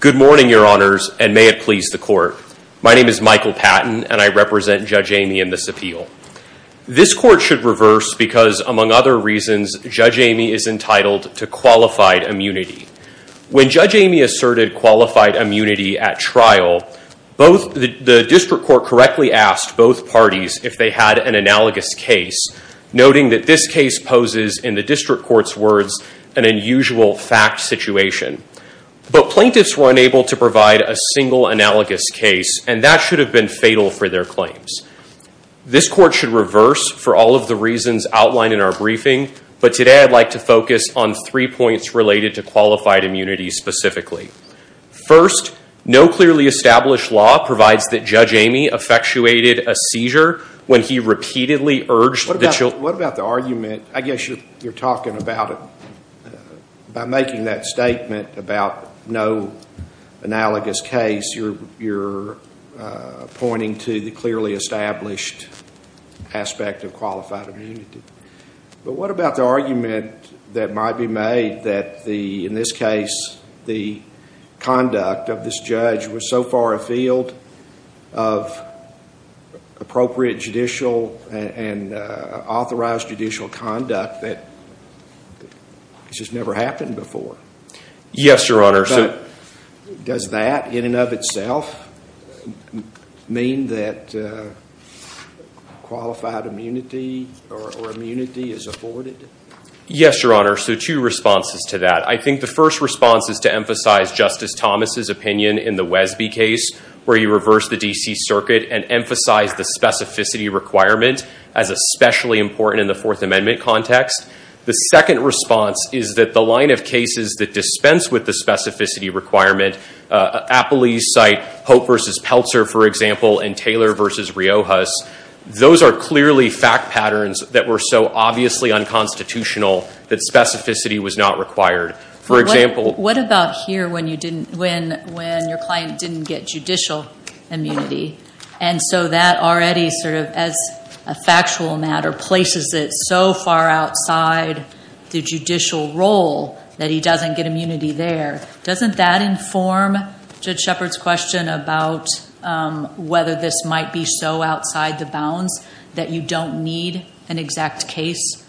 Good morning, your honors, and may it please the court. My name is Michael Patton, and I represent Judge Eighmy in this appeal. This court should reverse because, among other reasons, Judge Eighmy is entitled to qualified immunity. When Judge Eighmy asserted qualified immunity at trial, the district court correctly asked both parties if they had an analogous case, noting that this case poses, in the district court's words, an unusual fact situation. But plaintiffs were unable to provide a single analogous case, and that should have been fatal for their claims. This court should reverse for all of the reasons outlined in our briefing, but today I'd like to focus on three points related to qualified immunity specifically. First, no clearly established law provides that Judge Eighmy effectuated a seizure when he repeatedly urged the children- I guess you're talking about it by making that statement about no analogous case. You're pointing to the clearly established aspect of qualified immunity. But what about the argument that might be made that, in this case, the conduct of this judge was so far afield of appropriate judicial and authorized judicial conduct that it's just never happened before? Yes, Your Honor. But does that, in and of itself, mean that qualified immunity or immunity is afforded? Yes, Your Honor. So two responses to that. I think the first response is to emphasize Justice Thomas's opinion in the Wesby case, where he reversed the D.C. Circuit and emphasized the specificity requirement as especially important in the Fourth Amendment context. The second response is that the line of cases that dispense with the specificity requirement, Appley's site, Hope v. Peltzer, for example, and Taylor v. Riojas, those are clearly fact patterns that were so obviously unconstitutional that specificity was not required. For example— But what about here, when your client didn't get judicial immunity? And so that already, as a factual matter, places it so far outside the judicial role that he doesn't get immunity there. Doesn't that inform Judge Shepard's question about whether this might be so outside the grounds that you don't need an exact case?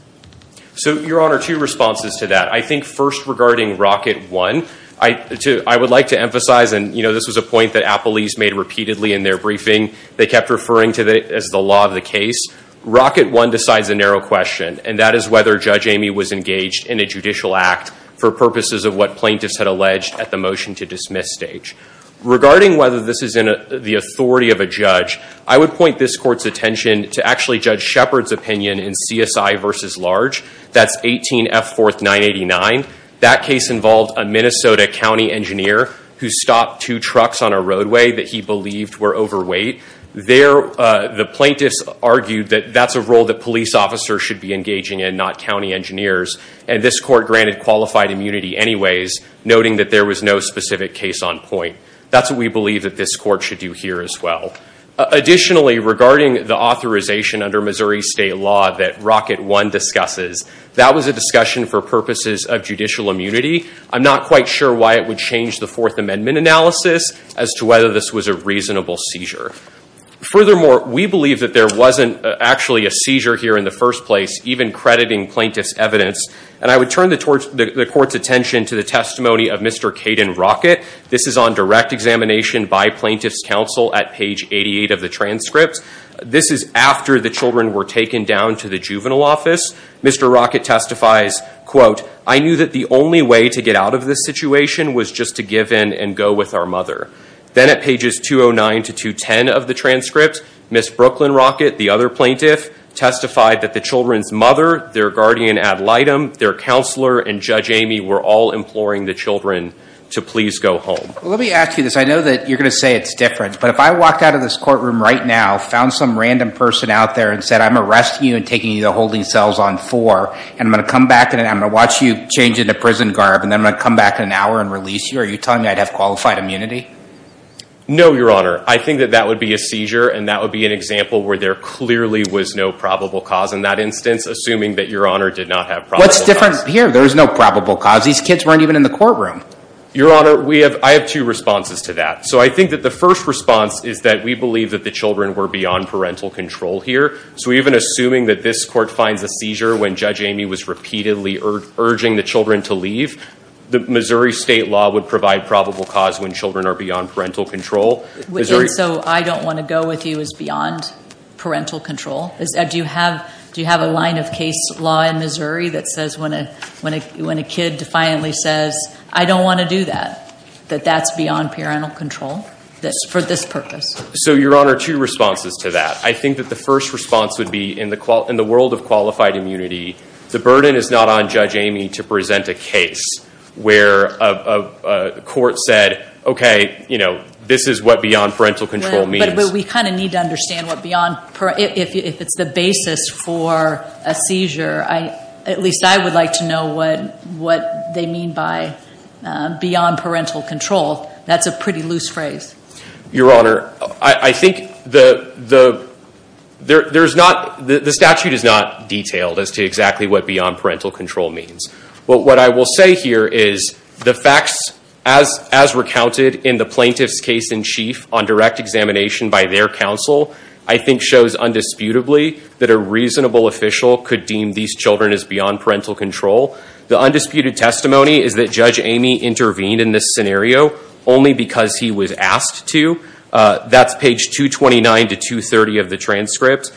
So Your Honor, two responses to that. I think, first, regarding Rocket One, I would like to emphasize—and this was a point that Appley's made repeatedly in their briefing, they kept referring to it as the law of the case—Rocket One decides a narrow question, and that is whether Judge Amy was engaged in a judicial act for purposes of what plaintiffs had alleged at the motion-to-dismiss stage. Regarding whether this is in the authority of a judge, I would point this Court's attention to actually Judge Shepard's opinion in CSI v. Large, that's 18F 4th 989. That case involved a Minnesota county engineer who stopped two trucks on a roadway that he believed were overweight. The plaintiffs argued that that's a role that police officers should be engaging in, not county engineers, and this Court granted qualified immunity anyways, noting that there was no specific case on point. That's what we believe that this Court should do here as well. Additionally, regarding the authorization under Missouri State law that Rocket One discusses, that was a discussion for purposes of judicial immunity. I'm not quite sure why it would change the Fourth Amendment analysis as to whether this was a reasonable seizure. Furthermore, we believe that there wasn't actually a seizure here in the first place, even crediting plaintiff's evidence, and I would turn the Court's attention to the testimony of Mr. Kayden Rocket. This is on direct examination by plaintiff's counsel at page 88 of the transcript. This is after the children were taken down to the juvenile office. Mr. Rocket testifies, quote, I knew that the only way to get out of this situation was just to give in and go with our mother. Then at pages 209 to 210 of the transcript, Ms. Brooklyn Rocket, the other plaintiff, testified that the children's mother, their guardian ad litem, their counselor, and Judge Kayden Rocket were not even in the courtroom and they were not even imploring the children to please go home. Let me ask you this. I know that you're going to say it's different, but if I walked out of this courtroom right now, found some random person out there and said, I'm arresting you and taking you to holding cells on four, and I'm going to come back and I'm going to watch you change into prison garb, and then I'm going to come back in an hour and release you, are you telling me I'd have qualified immunity? No, Your Honor. I think that that would be a seizure and that would be an example where there clearly was no probable cause. In that instance, assuming that Your Honor did not have probable cause. What's different here? There was no probable cause. These kids weren't even in the courtroom. Your Honor, we have, I have two responses to that. So I think that the first response is that we believe that the children were beyond parental control here. So even assuming that this court finds a seizure when Judge Amy was repeatedly urging the children to leave, the Missouri state law would provide probable cause when children are beyond parental control. And so I don't want to go with you as beyond parental control. Do you have a line of case law in Missouri that says when a kid defiantly says, I don't want to do that, that that's beyond parental control for this purpose? So Your Honor, two responses to that. I think that the first response would be in the world of qualified immunity, the burden is not on Judge Amy to present a case where a court said, okay, this is what beyond parental control means. But we kind of need to understand what beyond, if it's the basis for a seizure, at least I would like to know what they mean by beyond parental control. That's a pretty loose phrase. Your Honor, I think the statute is not detailed as to exactly what beyond parental control means. But what I will say here is the facts, as recounted in the plaintiff's case in chief on direct examination by their counsel, I think shows undisputably that a reasonable official could deem these children as beyond parental control. The undisputed testimony is that Judge Amy intervened in this scenario only because he was asked to. That's page 229 to 230 of the transcript.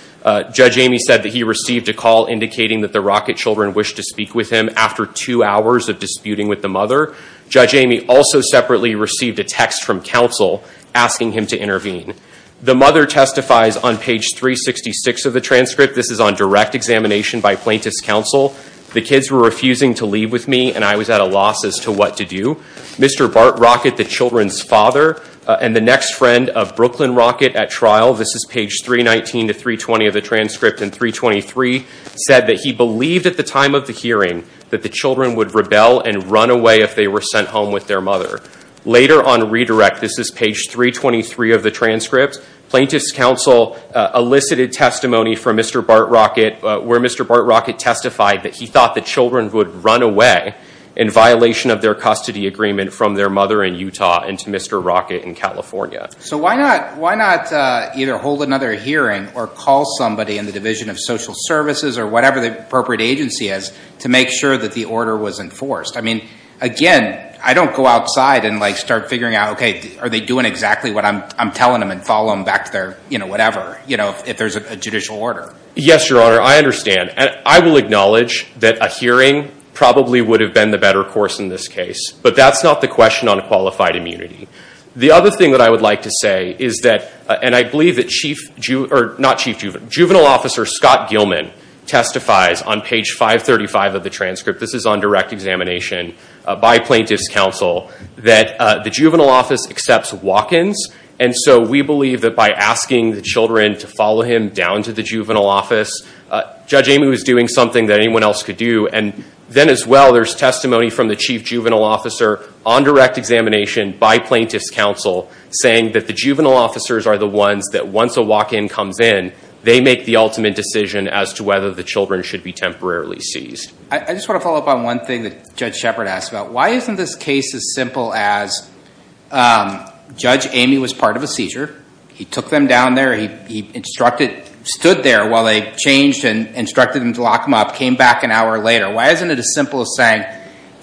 Judge Amy said that he received a call indicating that the Rockett children wished to speak with him after two hours of disputing with the mother. Judge Amy also separately received a text from counsel asking him to intervene. The mother testifies on page 366 of the transcript. This is on direct examination by plaintiff's counsel. The kids were refusing to leave with me, and I was at a loss as to what to do. Mr. Bart Rockett, the children's father, and the next friend of Brooklyn Rockett at trial, this is page 319 to 320 of the transcript, in 323, said that he believed at the time of the hearing that the children would rebel and run away if they were sent home with their mother. Later, on redirect, this is page 323 of the transcript, plaintiff's counsel elicited testimony from Mr. Bart Rockett, where Mr. Bart Rockett testified that he thought the children would run away in violation of their custody agreement from their mother in Utah and to Mr. Rockett in California. So why not either hold another hearing or call somebody in the Division of Social Services or whatever the appropriate agency is to make sure that the order was enforced? I mean, again, I don't go outside and start figuring out, OK, are they doing exactly what I'm telling them and follow them back to their whatever, if there's a judicial order. Yes, Your Honor, I understand. I will acknowledge that a hearing probably would have been the better course in this case, but that's not the question on qualified immunity. The other thing that I would like to say is that, and I believe that Chief, or not Chief Juvenile Officer Scott Gilman testifies on page 535 of the transcript, this is on direct examination by plaintiff's counsel, that the Juvenile Office accepts walk-ins. And so we believe that by asking the children to follow him down to the Juvenile Office, Judge Amy was doing something that anyone else could do. And then as well, there's testimony from the Chief Juvenile Officer on direct examination by plaintiff's counsel saying that the Juvenile Officers are the ones that once a walk-in comes in, they make the ultimate decision as to whether the children should be temporarily seized. I just want to follow up on one thing that Judge Shepard asked about. Why isn't this case as simple as Judge Amy was part of a seizure. He took them down there. He instructed, stood there while they changed and instructed him to lock them up, came back an hour later. Why isn't it as simple as saying,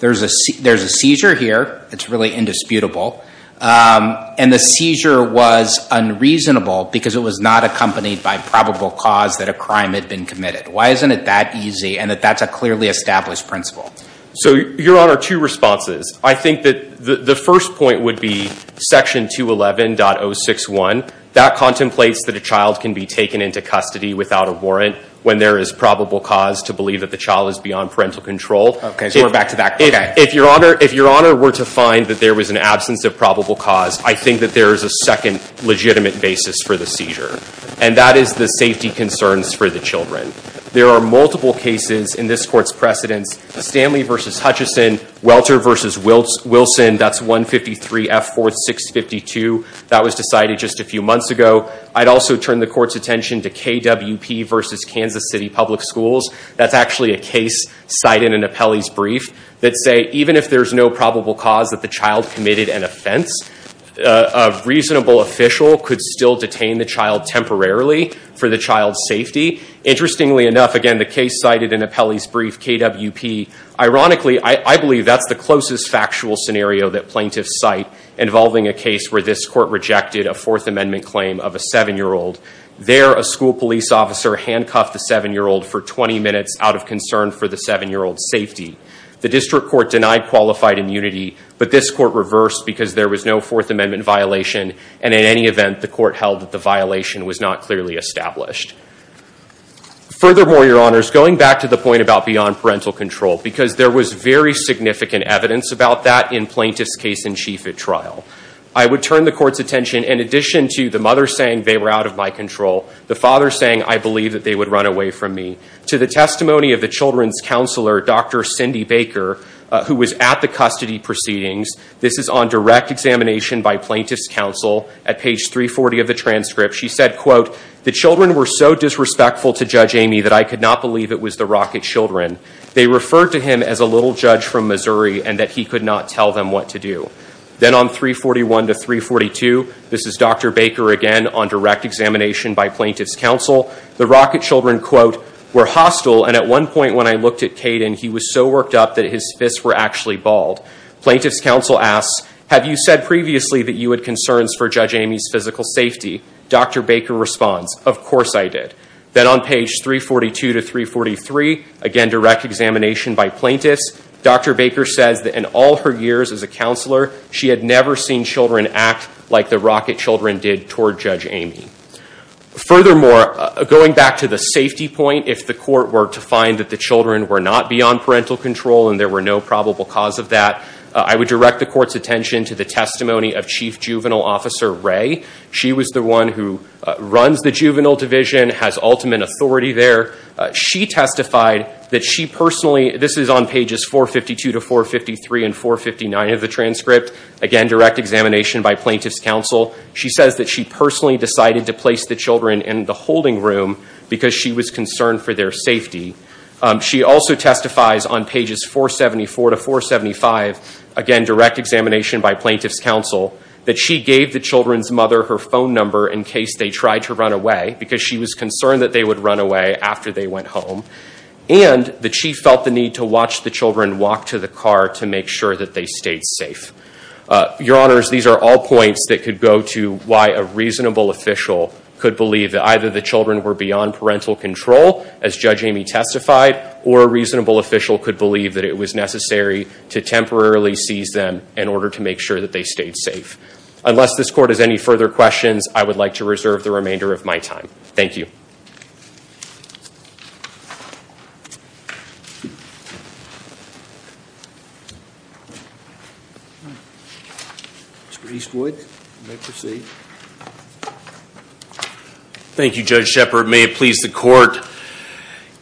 there's a seizure here, it's really indisputable, and the seizure was unreasonable because it was not accompanied by probable cause that a crime had been committed. Why isn't it that easy and that that's a clearly established principle? So Your Honor, two responses. I think that the first point would be section 211.061. That contemplates that a child can be taken into custody without a warrant when there is probable cause to believe that the child is beyond parental control. OK. So we're back to that. If Your Honor were to find that there was an absence of probable cause, I think that there is a second legitimate basis for the seizure. And that is the safety concerns for the children. There are multiple cases in this court's precedents. Stanley v. Hutchison, Welter v. Wilson, that's 153F4652. That was decided just a few months ago. I'd also turn the court's attention to KWP v. Kansas City Public Schools. That's actually a case cited in Appelli's brief that say even if there's no probable cause that the child committed an offense, a reasonable official could still detain the child temporarily for the child's safety. Interestingly enough, again, the case cited in Appelli's brief, KWP, ironically, I believe that's the closest factual scenario that plaintiffs cite involving a case where this court rejected a Fourth Amendment claim of a seven-year-old. There, a school police officer handcuffed the seven-year-old for 20 minutes out of concern for the seven-year-old's safety. The district court denied qualified immunity, but this court reversed because there was no Fourth Amendment violation, and in any event, the court held that the violation was not clearly established. Furthermore, Your Honors, going back to the point about beyond parental control, because there was very significant evidence about that in plaintiff's case in chief at trial. I would turn the court's attention, in addition to the mother saying they were out of my control, the father saying I believe that they would run away from me. To the testimony of the children's counselor, Dr. Cindy Baker, who was at the custody proceedings, this is on direct examination by plaintiff's counsel. At page 340 of the transcript, she said, quote, the children were so disrespectful to Judge Amy that I could not believe it was the Rockett children. They referred to him as a little judge from Missouri and that he could not tell them what to do. Then on 341 to 342, this is Dr. Baker again on direct examination by plaintiff's counsel. The Rockett children, quote, were hostile, and at one point when I looked at Caden, he was so worked up that his fists were actually bald. Plaintiff's counsel asks, have you said previously that you had concerns for Judge Amy's physical safety? Dr. Baker responds, of course I did. Then on page 342 to 343, again direct examination by plaintiff's, Dr. Baker says that in all her years as a counselor, she had never seen children act like the Rockett children did toward Judge Amy. Furthermore, going back to the safety point, if the court were to find that the children were not beyond parental control and there were no probable cause of that, I would direct the court's attention to the testimony of Chief Juvenile Officer Ray. She was the one who runs the juvenile division, has ultimate authority there. She testified that she personally, this is on pages 452 to 453 and 459 of the transcript, again direct examination by plaintiff's counsel. She says that she personally decided to place the children in the holding room because she was concerned for their safety. She also testifies on pages 474 to 475, again direct examination by plaintiff's counsel, that she gave the children's mother her phone number in case they tried to run away because she was concerned that they would run away after they went home, and that she felt the need to watch the children walk to the car to make sure that they stayed safe. Your honors, these are all points that could go to why a reasonable official could believe that either the children were beyond parental control, as Judge Amy testified, or a reasonable official could believe that it was necessary to temporarily seize them in order to make sure that they stayed safe. Unless this court has any further questions, I would like to reserve the remainder of my time. Mr. Eastwood, you may proceed. Thank you, Judge Shepard. May it please the court,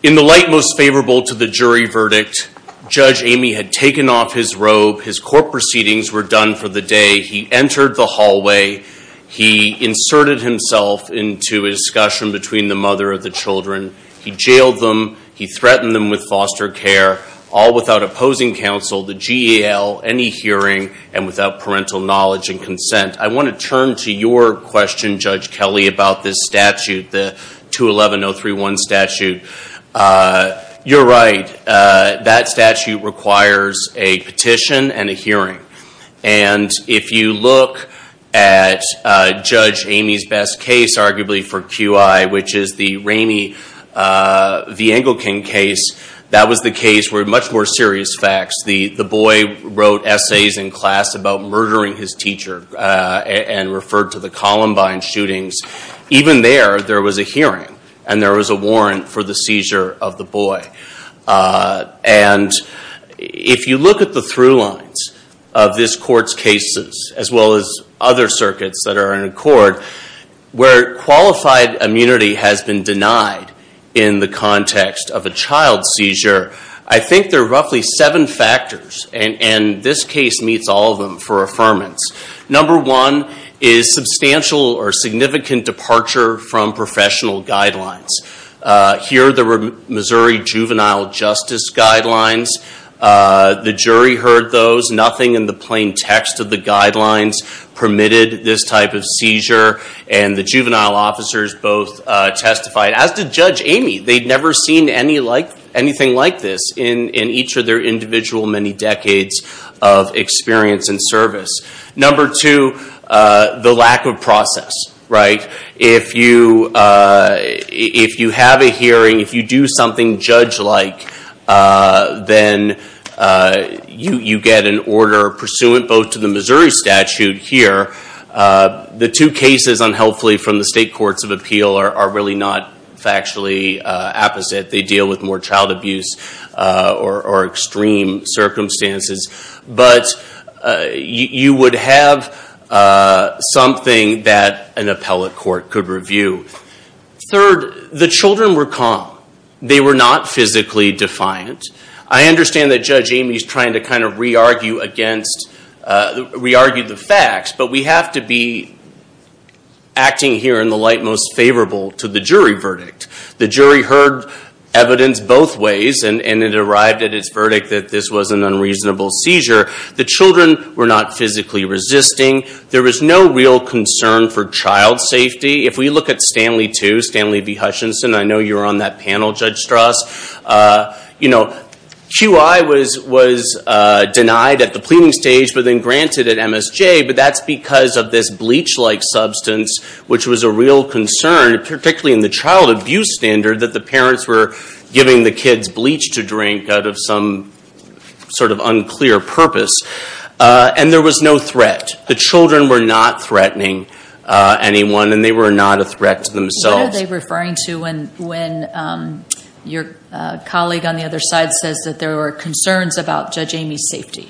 in the light most favorable to the jury verdict, Judge Amy had taken off his robe, his court proceedings were done for the day, he entered the hallway, he inserted himself into a discussion between the mother of the children, he jailed them, he threatened them with foster care, all without opposing counsel, the GAL, any hearing, and without parental knowledge and consent. I want to turn to your question, Judge Kelly, about this statute, the 211-031 statute. You're right, that statute requires a petition and a hearing. And if you look at Judge Amy's best case, arguably for QI, which is the Ramey v. Engelken case, that was the case where much more serious facts, the boy wrote essays in class about murdering his teacher, and referred to the Columbine shootings. Even there, there was a hearing, and there was a warrant for the seizure of the boy. And if you look at the through lines of this court's cases, as well as other circuits that are in accord, where qualified immunity has been denied in the context of a child seizure, I think there are roughly seven factors, and this case meets all of them for affirmance. Number one is substantial or significant departure from professional guidelines. Here, the Missouri Juvenile Justice Guidelines, the jury heard those, nothing in the plain text of the guidelines permitted this type of seizure. And the juvenile officers both testified, as did Judge Amy, they'd never seen anything like this in each of their individual many decades of experience and service. Number two, the lack of process. If you have a hearing, if you do something judge-like, then you get an order pursuant both to the Missouri statute here, the two cases unhelpfully from the state courts of appeal are really not factually opposite. They deal with more child abuse or extreme circumstances. But you would have something that an appellate court could review. Third, the children were calm. They were not physically defiant. I understand that Judge Amy is trying to kind of re-argue against, re-argue the facts, but we have to be acting here in the light most favorable to the jury verdict. The jury heard evidence both ways, and it arrived at its verdict that this was an unreasonable seizure. The children were not physically resisting. There was no real concern for child safety. If we look at Stanley II, Stanley V. Hutchinson, I know you were on that panel, Judge Strauss. You know, QI was denied at the pleading stage, but then granted at MSJ, but that's because of this bleach-like substance, which was a real concern, particularly in the child abuse standard, that the parents were giving the kids bleach to drink out of some sort of unclear purpose, and there was no threat. The children were not threatening anyone, and they were not a threat to themselves. What are they referring to when your colleague on the other side says that there were concerns about Judge Amy's safety?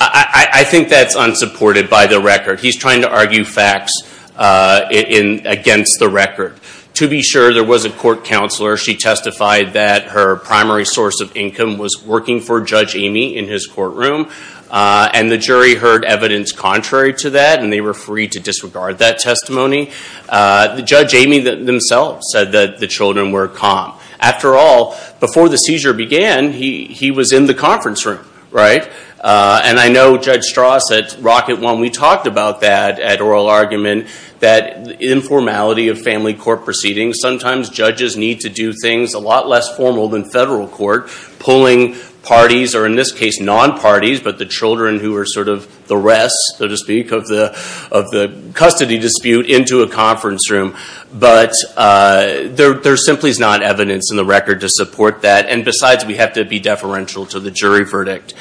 I think that's unsupported by the record. He's trying to argue facts against the record. To be sure, there was a court counselor. She testified that her primary source of income was working for Judge Amy in his courtroom, and the jury heard evidence contrary to that, and they were free to disregard that testimony. Judge Amy themselves said that the children were calm. After all, before the seizure began, he was in the conference room, right? And I know Judge Strauss at Rocket One, we talked about that at oral argument, that the informality of family court proceedings, sometimes judges need to do things a lot less formal than federal court, pulling parties, or in this case, non-parties, but the children who are sort of the rest, so to speak, of the custody dispute into a conference room. But there simply is not evidence in the record to support that, and besides, we have to be deferential to the jury verdict.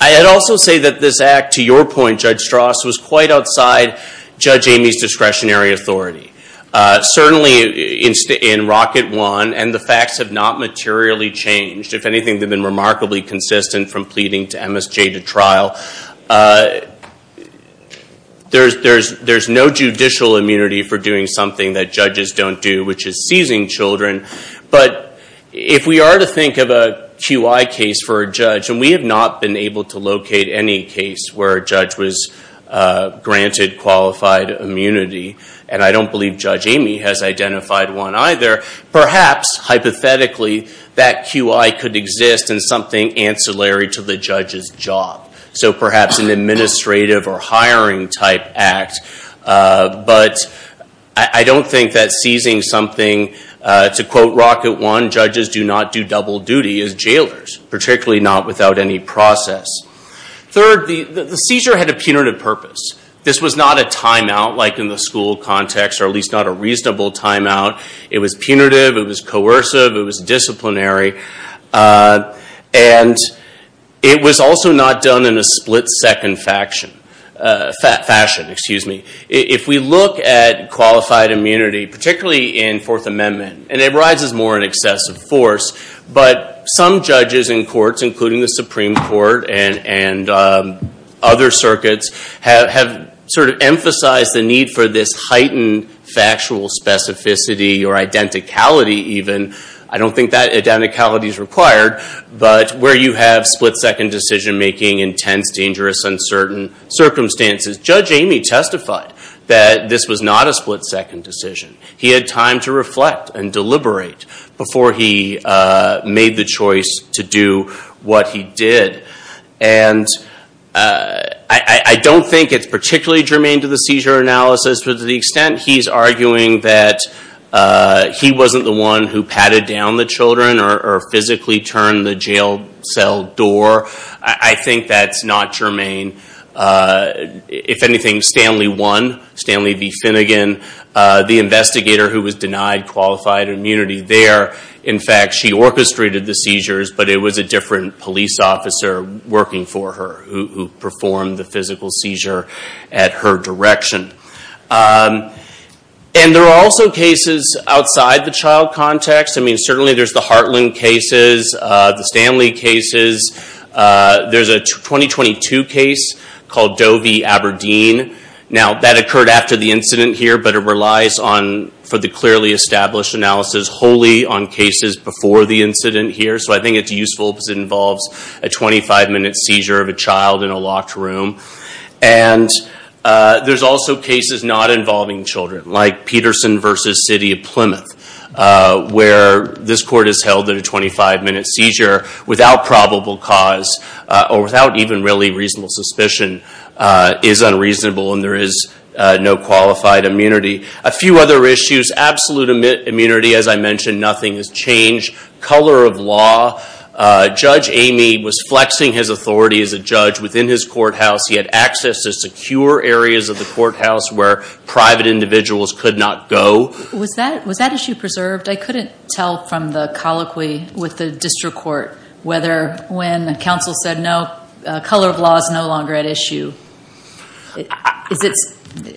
I'd also say that this act, to your point, Judge Strauss, was quite outside Judge Amy's discretionary authority. Certainly, in Rocket One, and the facts have not materially changed, if anything, they've been remarkably consistent from pleading to MSJ to trial. There's no judicial immunity for doing something that judges don't do, which is seizing children, but if we are to think of a QI case for a judge, and we have not been able to locate any case where a judge was granted qualified immunity, and I don't believe Judge Amy has identified one either, perhaps, hypothetically, that QI could exist in something ancillary to the judge's job. So perhaps an administrative or hiring type act, but I don't think that seizing something, to quote Rocket One, judges do not do double duty as jailers, particularly not without any process. Third, the seizure had a punitive purpose. This was not a timeout, like in the school context, or at least not a reasonable timeout. It was punitive, it was coercive, it was disciplinary, and it was also not done in a split-second fashion. If we look at qualified immunity, particularly in Fourth Amendment, and it arises more in excessive force, but some judges in courts, including the Supreme Court and other circuits, have sort of emphasized the need for this heightened factual specificity or identicality even. I don't think that identicality is required, but where you have split-second decision-making, intense, dangerous, uncertain circumstances, Judge Amy testified that this was not a split-second decision. He had time to reflect and deliberate before he made the choice to do what he did. I don't think it's particularly germane to the seizure analysis, but to the extent he's arguing that he wasn't the one who patted down the children or physically turned the jail cell door, I think that's not germane. I mean, if anything, Stanley won, Stanley V. Finnegan, the investigator who was denied qualified immunity there, in fact, she orchestrated the seizures, but it was a different police officer working for her who performed the physical seizure at her direction. And there are also cases outside the child context. I mean, certainly there's the Hartland cases, the Stanley cases. There's a 2022 case called Doe v. Aberdeen. Now that occurred after the incident here, but it relies on, for the clearly established analysis, wholly on cases before the incident here. So I think it's useful because it involves a 25-minute seizure of a child in a locked room. And there's also cases not involving children, like Peterson v. City of Plymouth, where this court is held in a 25-minute seizure without probable cause or without even really reasonable suspicion is unreasonable, and there is no qualified immunity. A few other issues, absolute immunity, as I mentioned, nothing has changed. Color of law, Judge Amy was flexing his authority as a judge within his courthouse. He had access to secure areas of the courthouse where private individuals could not go. Was that issue preserved? I couldn't tell from the colloquy with the district court whether when the counsel said no, color of law is no longer at issue.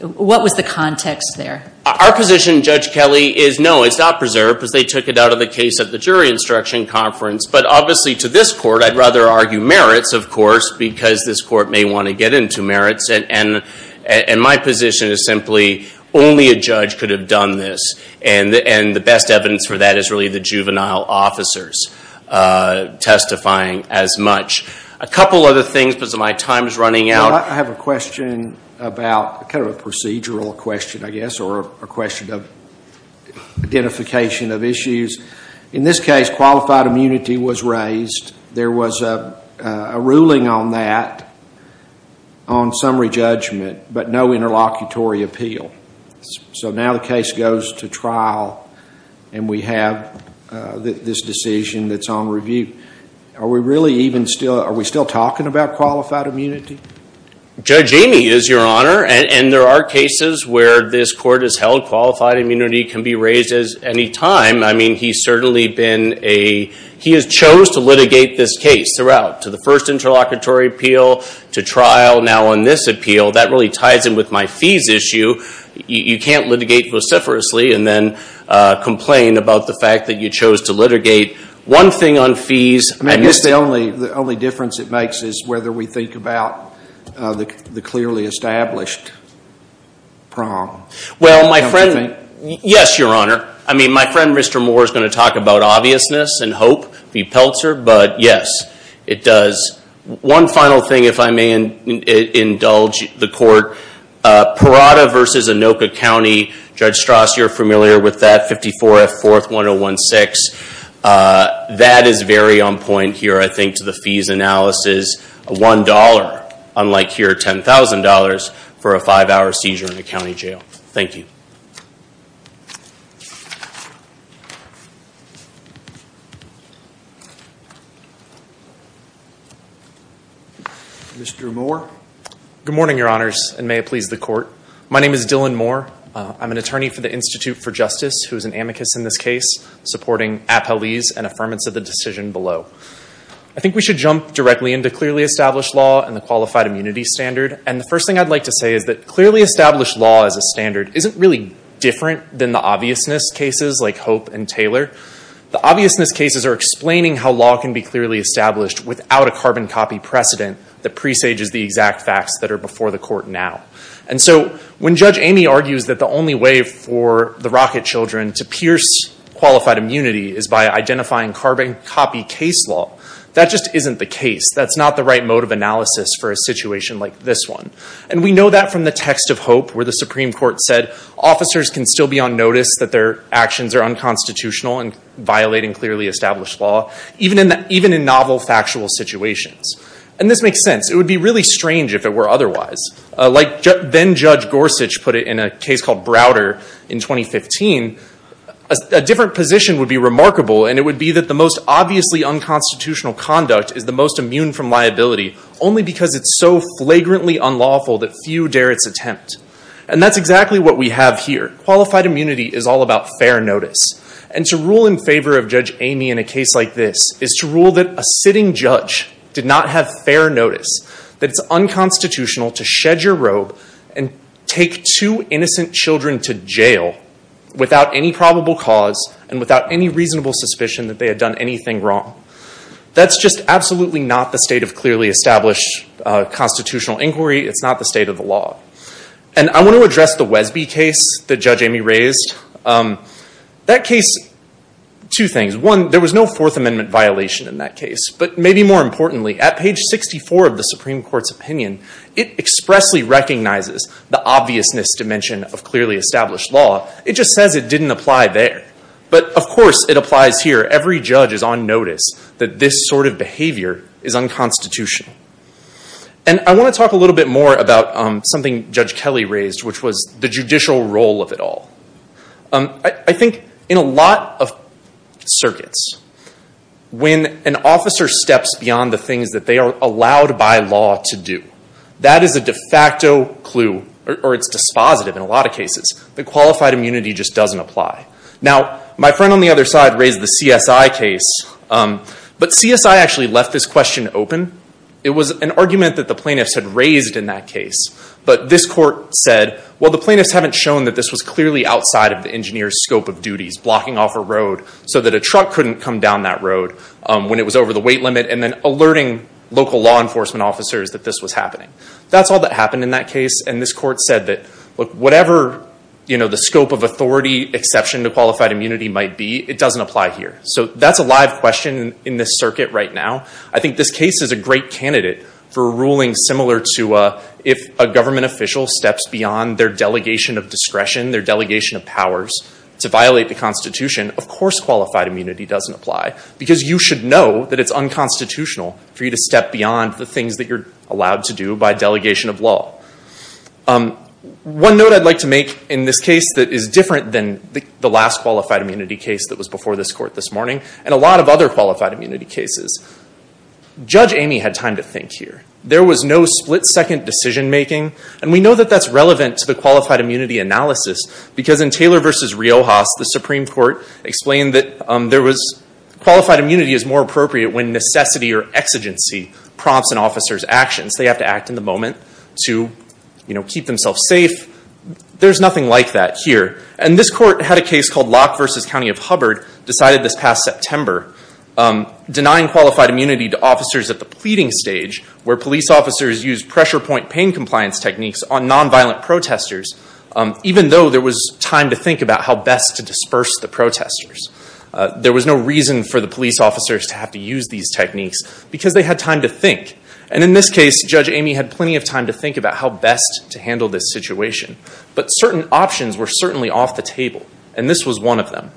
What was the context there? Our position, Judge Kelly, is no, it's not preserved because they took it out of the case at the jury instruction conference. But obviously to this court, I'd rather argue merits, of course, because this court may want to get into merits. And my position is simply only a judge could have done this, and the best evidence for that is really the juvenile officers testifying as much. A couple other things because my time is running out. Well, I have a question about, kind of a procedural question, I guess, or a question of identification of issues. In this case, qualified immunity was raised. There was a ruling on that on summary judgment, but no interlocutory appeal. So now the case goes to trial, and we have this decision that's on review. Are we really even still, are we still talking about qualified immunity? Judge Amy, it is your honor, and there are cases where this court has held qualified immunity can be raised at any time. I mean, he's certainly been a, he has chose to litigate this case throughout, to the first interlocutory appeal, to trial, now on this appeal, that really ties in with my fees issue. You can't litigate vociferously and then complain about the fact that you chose to litigate one thing on fees. I guess the only difference it makes is whether we think about the clearly established prong. Well, my friend, yes, your honor. I mean, my friend, Mr. Moore, is going to talk about obviousness and hope, but yes, it does. One final thing, if I may indulge the court, Parada v. Anoka County, Judge Strauss, you're familiar with that, 54 F. 4th, 1016. That is very on point here, I think, to the fees analysis, $1, unlike here, $10,000 for a five-hour seizure in a county jail. Thank you. Mr. Moore? Good morning, your honors, and may it please the court. My name is Dylan Moore. I'm an attorney for the Institute for Justice, who is an amicus in this case, supporting appellees and affirmance of the decision below. I think we should jump directly into clearly established law and the qualified immunity standard, and the first thing I'd like to say is that clearly established law as a standard isn't really different than the obviousness cases like Hope and Taylor. The obviousness cases are explaining how law can be clearly established without a carbon copy precedent that presages the exact facts that are before the court now. And so when Judge Amy argues that the only way for the Rocket children to pierce qualified immunity is by identifying carbon copy case law, that just isn't the case. That's not the right mode of analysis for a situation like this one. And we know that from the text of Hope, where the Supreme Court said officers can still be on notice that their actions are unconstitutional and violating clearly established law, even in novel factual situations. And this makes sense. It would be really strange if it were otherwise. Like then-Judge Gorsuch put it in a case called Browder in 2015, a different position would be remarkable, and it would be that the most obviously unconstitutional conduct is the most immune from liability only because it's so flagrantly unlawful that few dare its attempt. And that's exactly what we have here. Qualified immunity is all about fair notice. And to rule in favor of Judge Amy in a case like this is to rule that a sitting judge did not have fair notice, that it's unconstitutional to shed your robe and take two innocent children to jail without any probable cause and without any reasonable suspicion that they had done anything wrong. That's just absolutely not the state of clearly established constitutional inquiry. It's not the state of the law. And I want to address the Wesby case that Judge Amy raised. That case, two things. One, there was no Fourth Amendment violation in that case. But maybe more importantly, at page 64 of the Supreme Court's opinion, it expressly recognizes the obviousness dimension of clearly established law. It just says it didn't apply there. But of course it applies here. Every judge is on notice that this sort of behavior is unconstitutional. And I want to talk a little bit more about something Judge Kelly raised, which was the judicial role of it all. I think in a lot of circuits, when an officer steps beyond the things that they are allowed by law to do, that is a de facto clue, or it's dispositive in a lot of cases. The qualified immunity just doesn't apply. Now, my friend on the other side raised the CSI case. But CSI actually left this question open. It was an argument that the plaintiffs had raised in that case. But this court said, well, the plaintiffs haven't shown that this was clearly outside of the engineer's scope of duties, blocking off a road so that a truck couldn't come down that road when it was over the weight limit, and then alerting local law enforcement officers that this was happening. That's all that happened in that case. And this court said that, look, whatever the scope of authority exception to qualified immunity might be, it doesn't apply here. So that's a live question in this circuit right now. I think this case is a great candidate for a ruling similar to if a government official steps beyond their delegation of discretion, their delegation of powers, to violate the Constitution, of course qualified immunity doesn't apply. Because you should know that it's unconstitutional for you to step beyond the things that you're allowed to do by delegation of law. One note I'd like to make in this case that is different than the last qualified immunity case that was before this court this morning, and a lot of other qualified immunity cases, Judge Amy had time to think here. There was no split second decision making. And we know that that's relevant to the qualified immunity analysis. Because in Taylor versus Riojas, the Supreme Court explained that qualified immunity is more appropriate when necessity or exigency prompts an officer's actions. They have to act in the moment to keep themselves safe. There's nothing like that here. And this court had a case called Locke versus County of Hubbard decided this past September denying qualified immunity to officers at the pleading stage, where police officers used pressure point pain compliance techniques on nonviolent protesters, even though there was time to think about how best to disperse the protesters. There was no reason for the police officers to have to use these techniques, because they had time to think. And in this case, Judge Amy had plenty of time to think about how best to handle this situation. But certain options were certainly off the table. And this was one of them.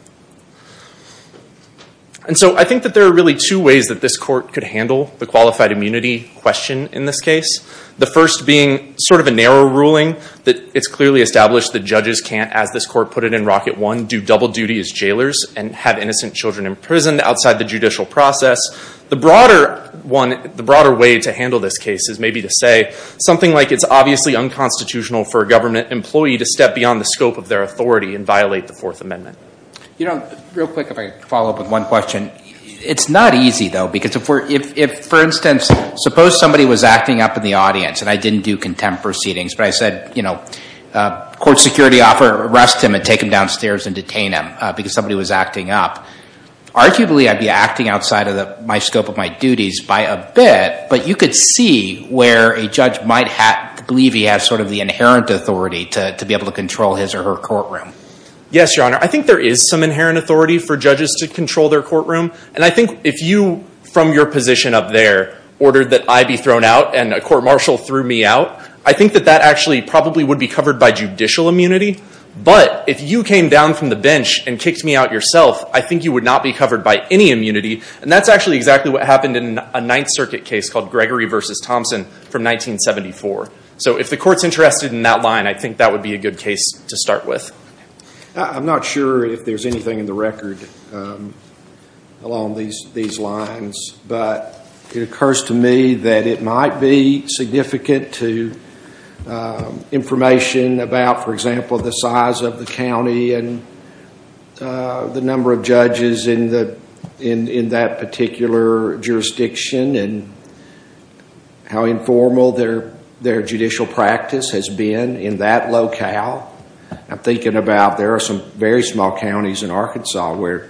And so I think that there are really two ways that this court could handle the qualified immunity question in this case. The first being sort of a narrow ruling that it's clearly established that judges can't, as this court put it in Rocket One, do double duty as jailers and have innocent children imprisoned outside the judicial process. The broader way to handle this case is maybe to say something like it's obviously unconstitutional for a government employee to step beyond the scope of their authority and violate the Fourth Amendment. You know, real quick, if I could follow up with one question. It's not easy, though. Because if, for instance, suppose somebody was acting up in the audience and I didn't do contempt proceedings, but I said, you know, court security officer, arrest him and take him downstairs and detain him because somebody was acting up, arguably I'd be acting outside of my scope of my duties by a bit. But you could see where a judge might believe he has sort of the inherent authority to be able to control his or her courtroom. Yes, Your Honor. I think there is some inherent authority for judges to control their courtroom. And I think if you, from your position up there, ordered that I be thrown out and a court-martial threw me out, I think that that actually probably would be covered by judicial immunity. But if you came down from the bench and kicked me out yourself, I think you would not be covered by any immunity. And that's actually exactly what happened in a Ninth Circuit case called Gregory v. Thompson from 1974. So if the Court's interested in that line, I think that would be a good case to start with. I'm not sure if there's anything in the record along these lines. But it occurs to me that it might be significant to information about, for example, the size of the county and the number of judges in that particular jurisdiction and how informal their judicial practice has been in that locale. I'm thinking about there are some very small counties in Arkansas where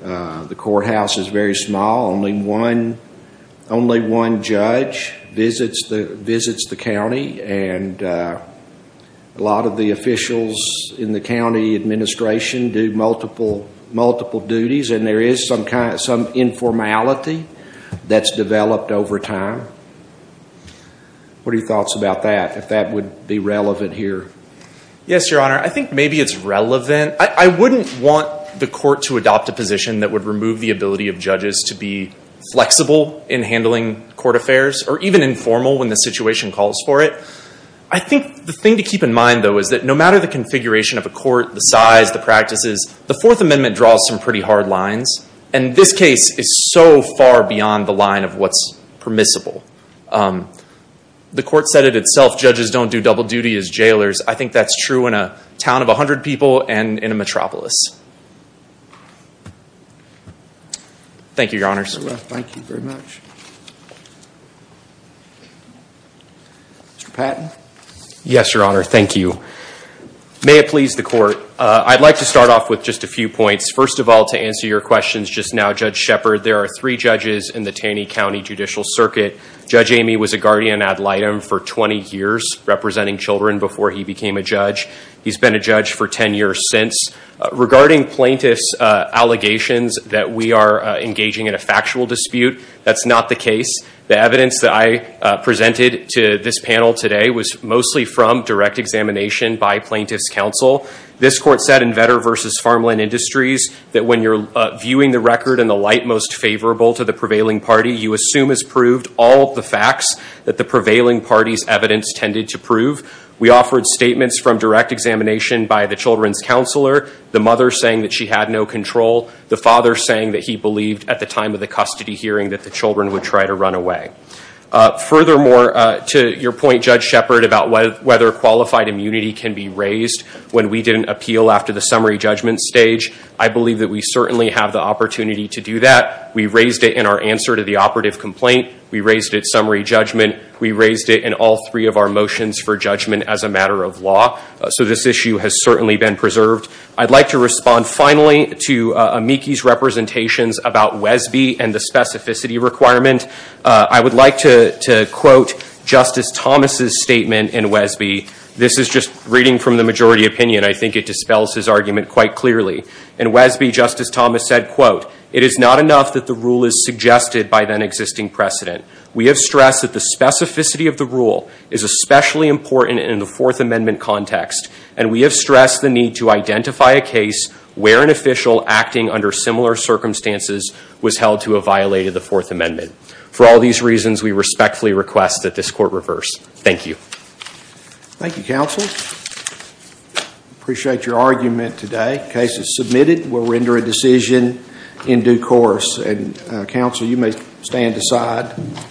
the courthouse is very small. Only one judge visits the county. And a lot of the officials in the county administration do multiple duties. And there is some informality that's developed over time. What are your thoughts about that, if that would be relevant here? Yes, Your Honor. I think maybe it's relevant. I wouldn't want the Court to adopt a position that would remove the ability of judges to be flexible in handling court affairs or even informal when the situation calls for it. I think the thing to keep in mind, though, is that no matter the configuration of a court, the size, the practices, the Fourth Amendment draws some pretty hard lines. And this case is so far beyond the line of what's permissible. The Court said it itself, judges don't do double duty as jailers. I think that's true in a town of 100 people and in a metropolis. Thank you, Your Honors. Thank you very much. Mr. Patton? Yes, Your Honor. Thank you. May it please the Court. I'd like to start off with just a few points. First of all, to answer your questions just now, Judge Shepherd, there are three judges in the Taney County Judicial Circuit. Judge Amy was a guardian ad litem for 20 years, representing children before he became a judge. He's been a judge for 10 years since. Regarding plaintiffs' allegations that we are engaging in a factual dispute, that's not the case. The evidence that I presented to this panel today was mostly from direct examination by plaintiffs' counsel. This Court said in Vetter v. Farmland Industries that when you're viewing the record in the to the prevailing party, you assume as proved all the facts that the prevailing party's evidence tended to prove. We offered statements from direct examination by the children's counselor, the mother saying that she had no control, the father saying that he believed at the time of the custody hearing that the children would try to run away. Furthermore, to your point, Judge Shepherd, about whether qualified immunity can be raised when we didn't appeal after the summary judgment stage, I believe that we certainly have the opportunity to do that. We raised it in our answer to the operative complaint. We raised it summary judgment. We raised it in all three of our motions for judgment as a matter of law. So this issue has certainly been preserved. I'd like to respond finally to Amiki's representations about Wesby and the specificity requirement. I would like to quote Justice Thomas' statement in Wesby. This is just reading from the majority opinion. I think it dispels his argument quite clearly. In Wesby, Justice Thomas said, quote, it is not enough that the rule is suggested by then existing precedent. We have stressed that the specificity of the rule is especially important in the Fourth Amendment context. And we have stressed the need to identify a case where an official acting under similar circumstances was held to have violated the Fourth Amendment. For all these reasons, we respectfully request that this court reverse. Thank you. Thank you, counsel. Appreciate your argument today. The case is submitted. We'll render a decision in due course. And counsel, you may stand aside.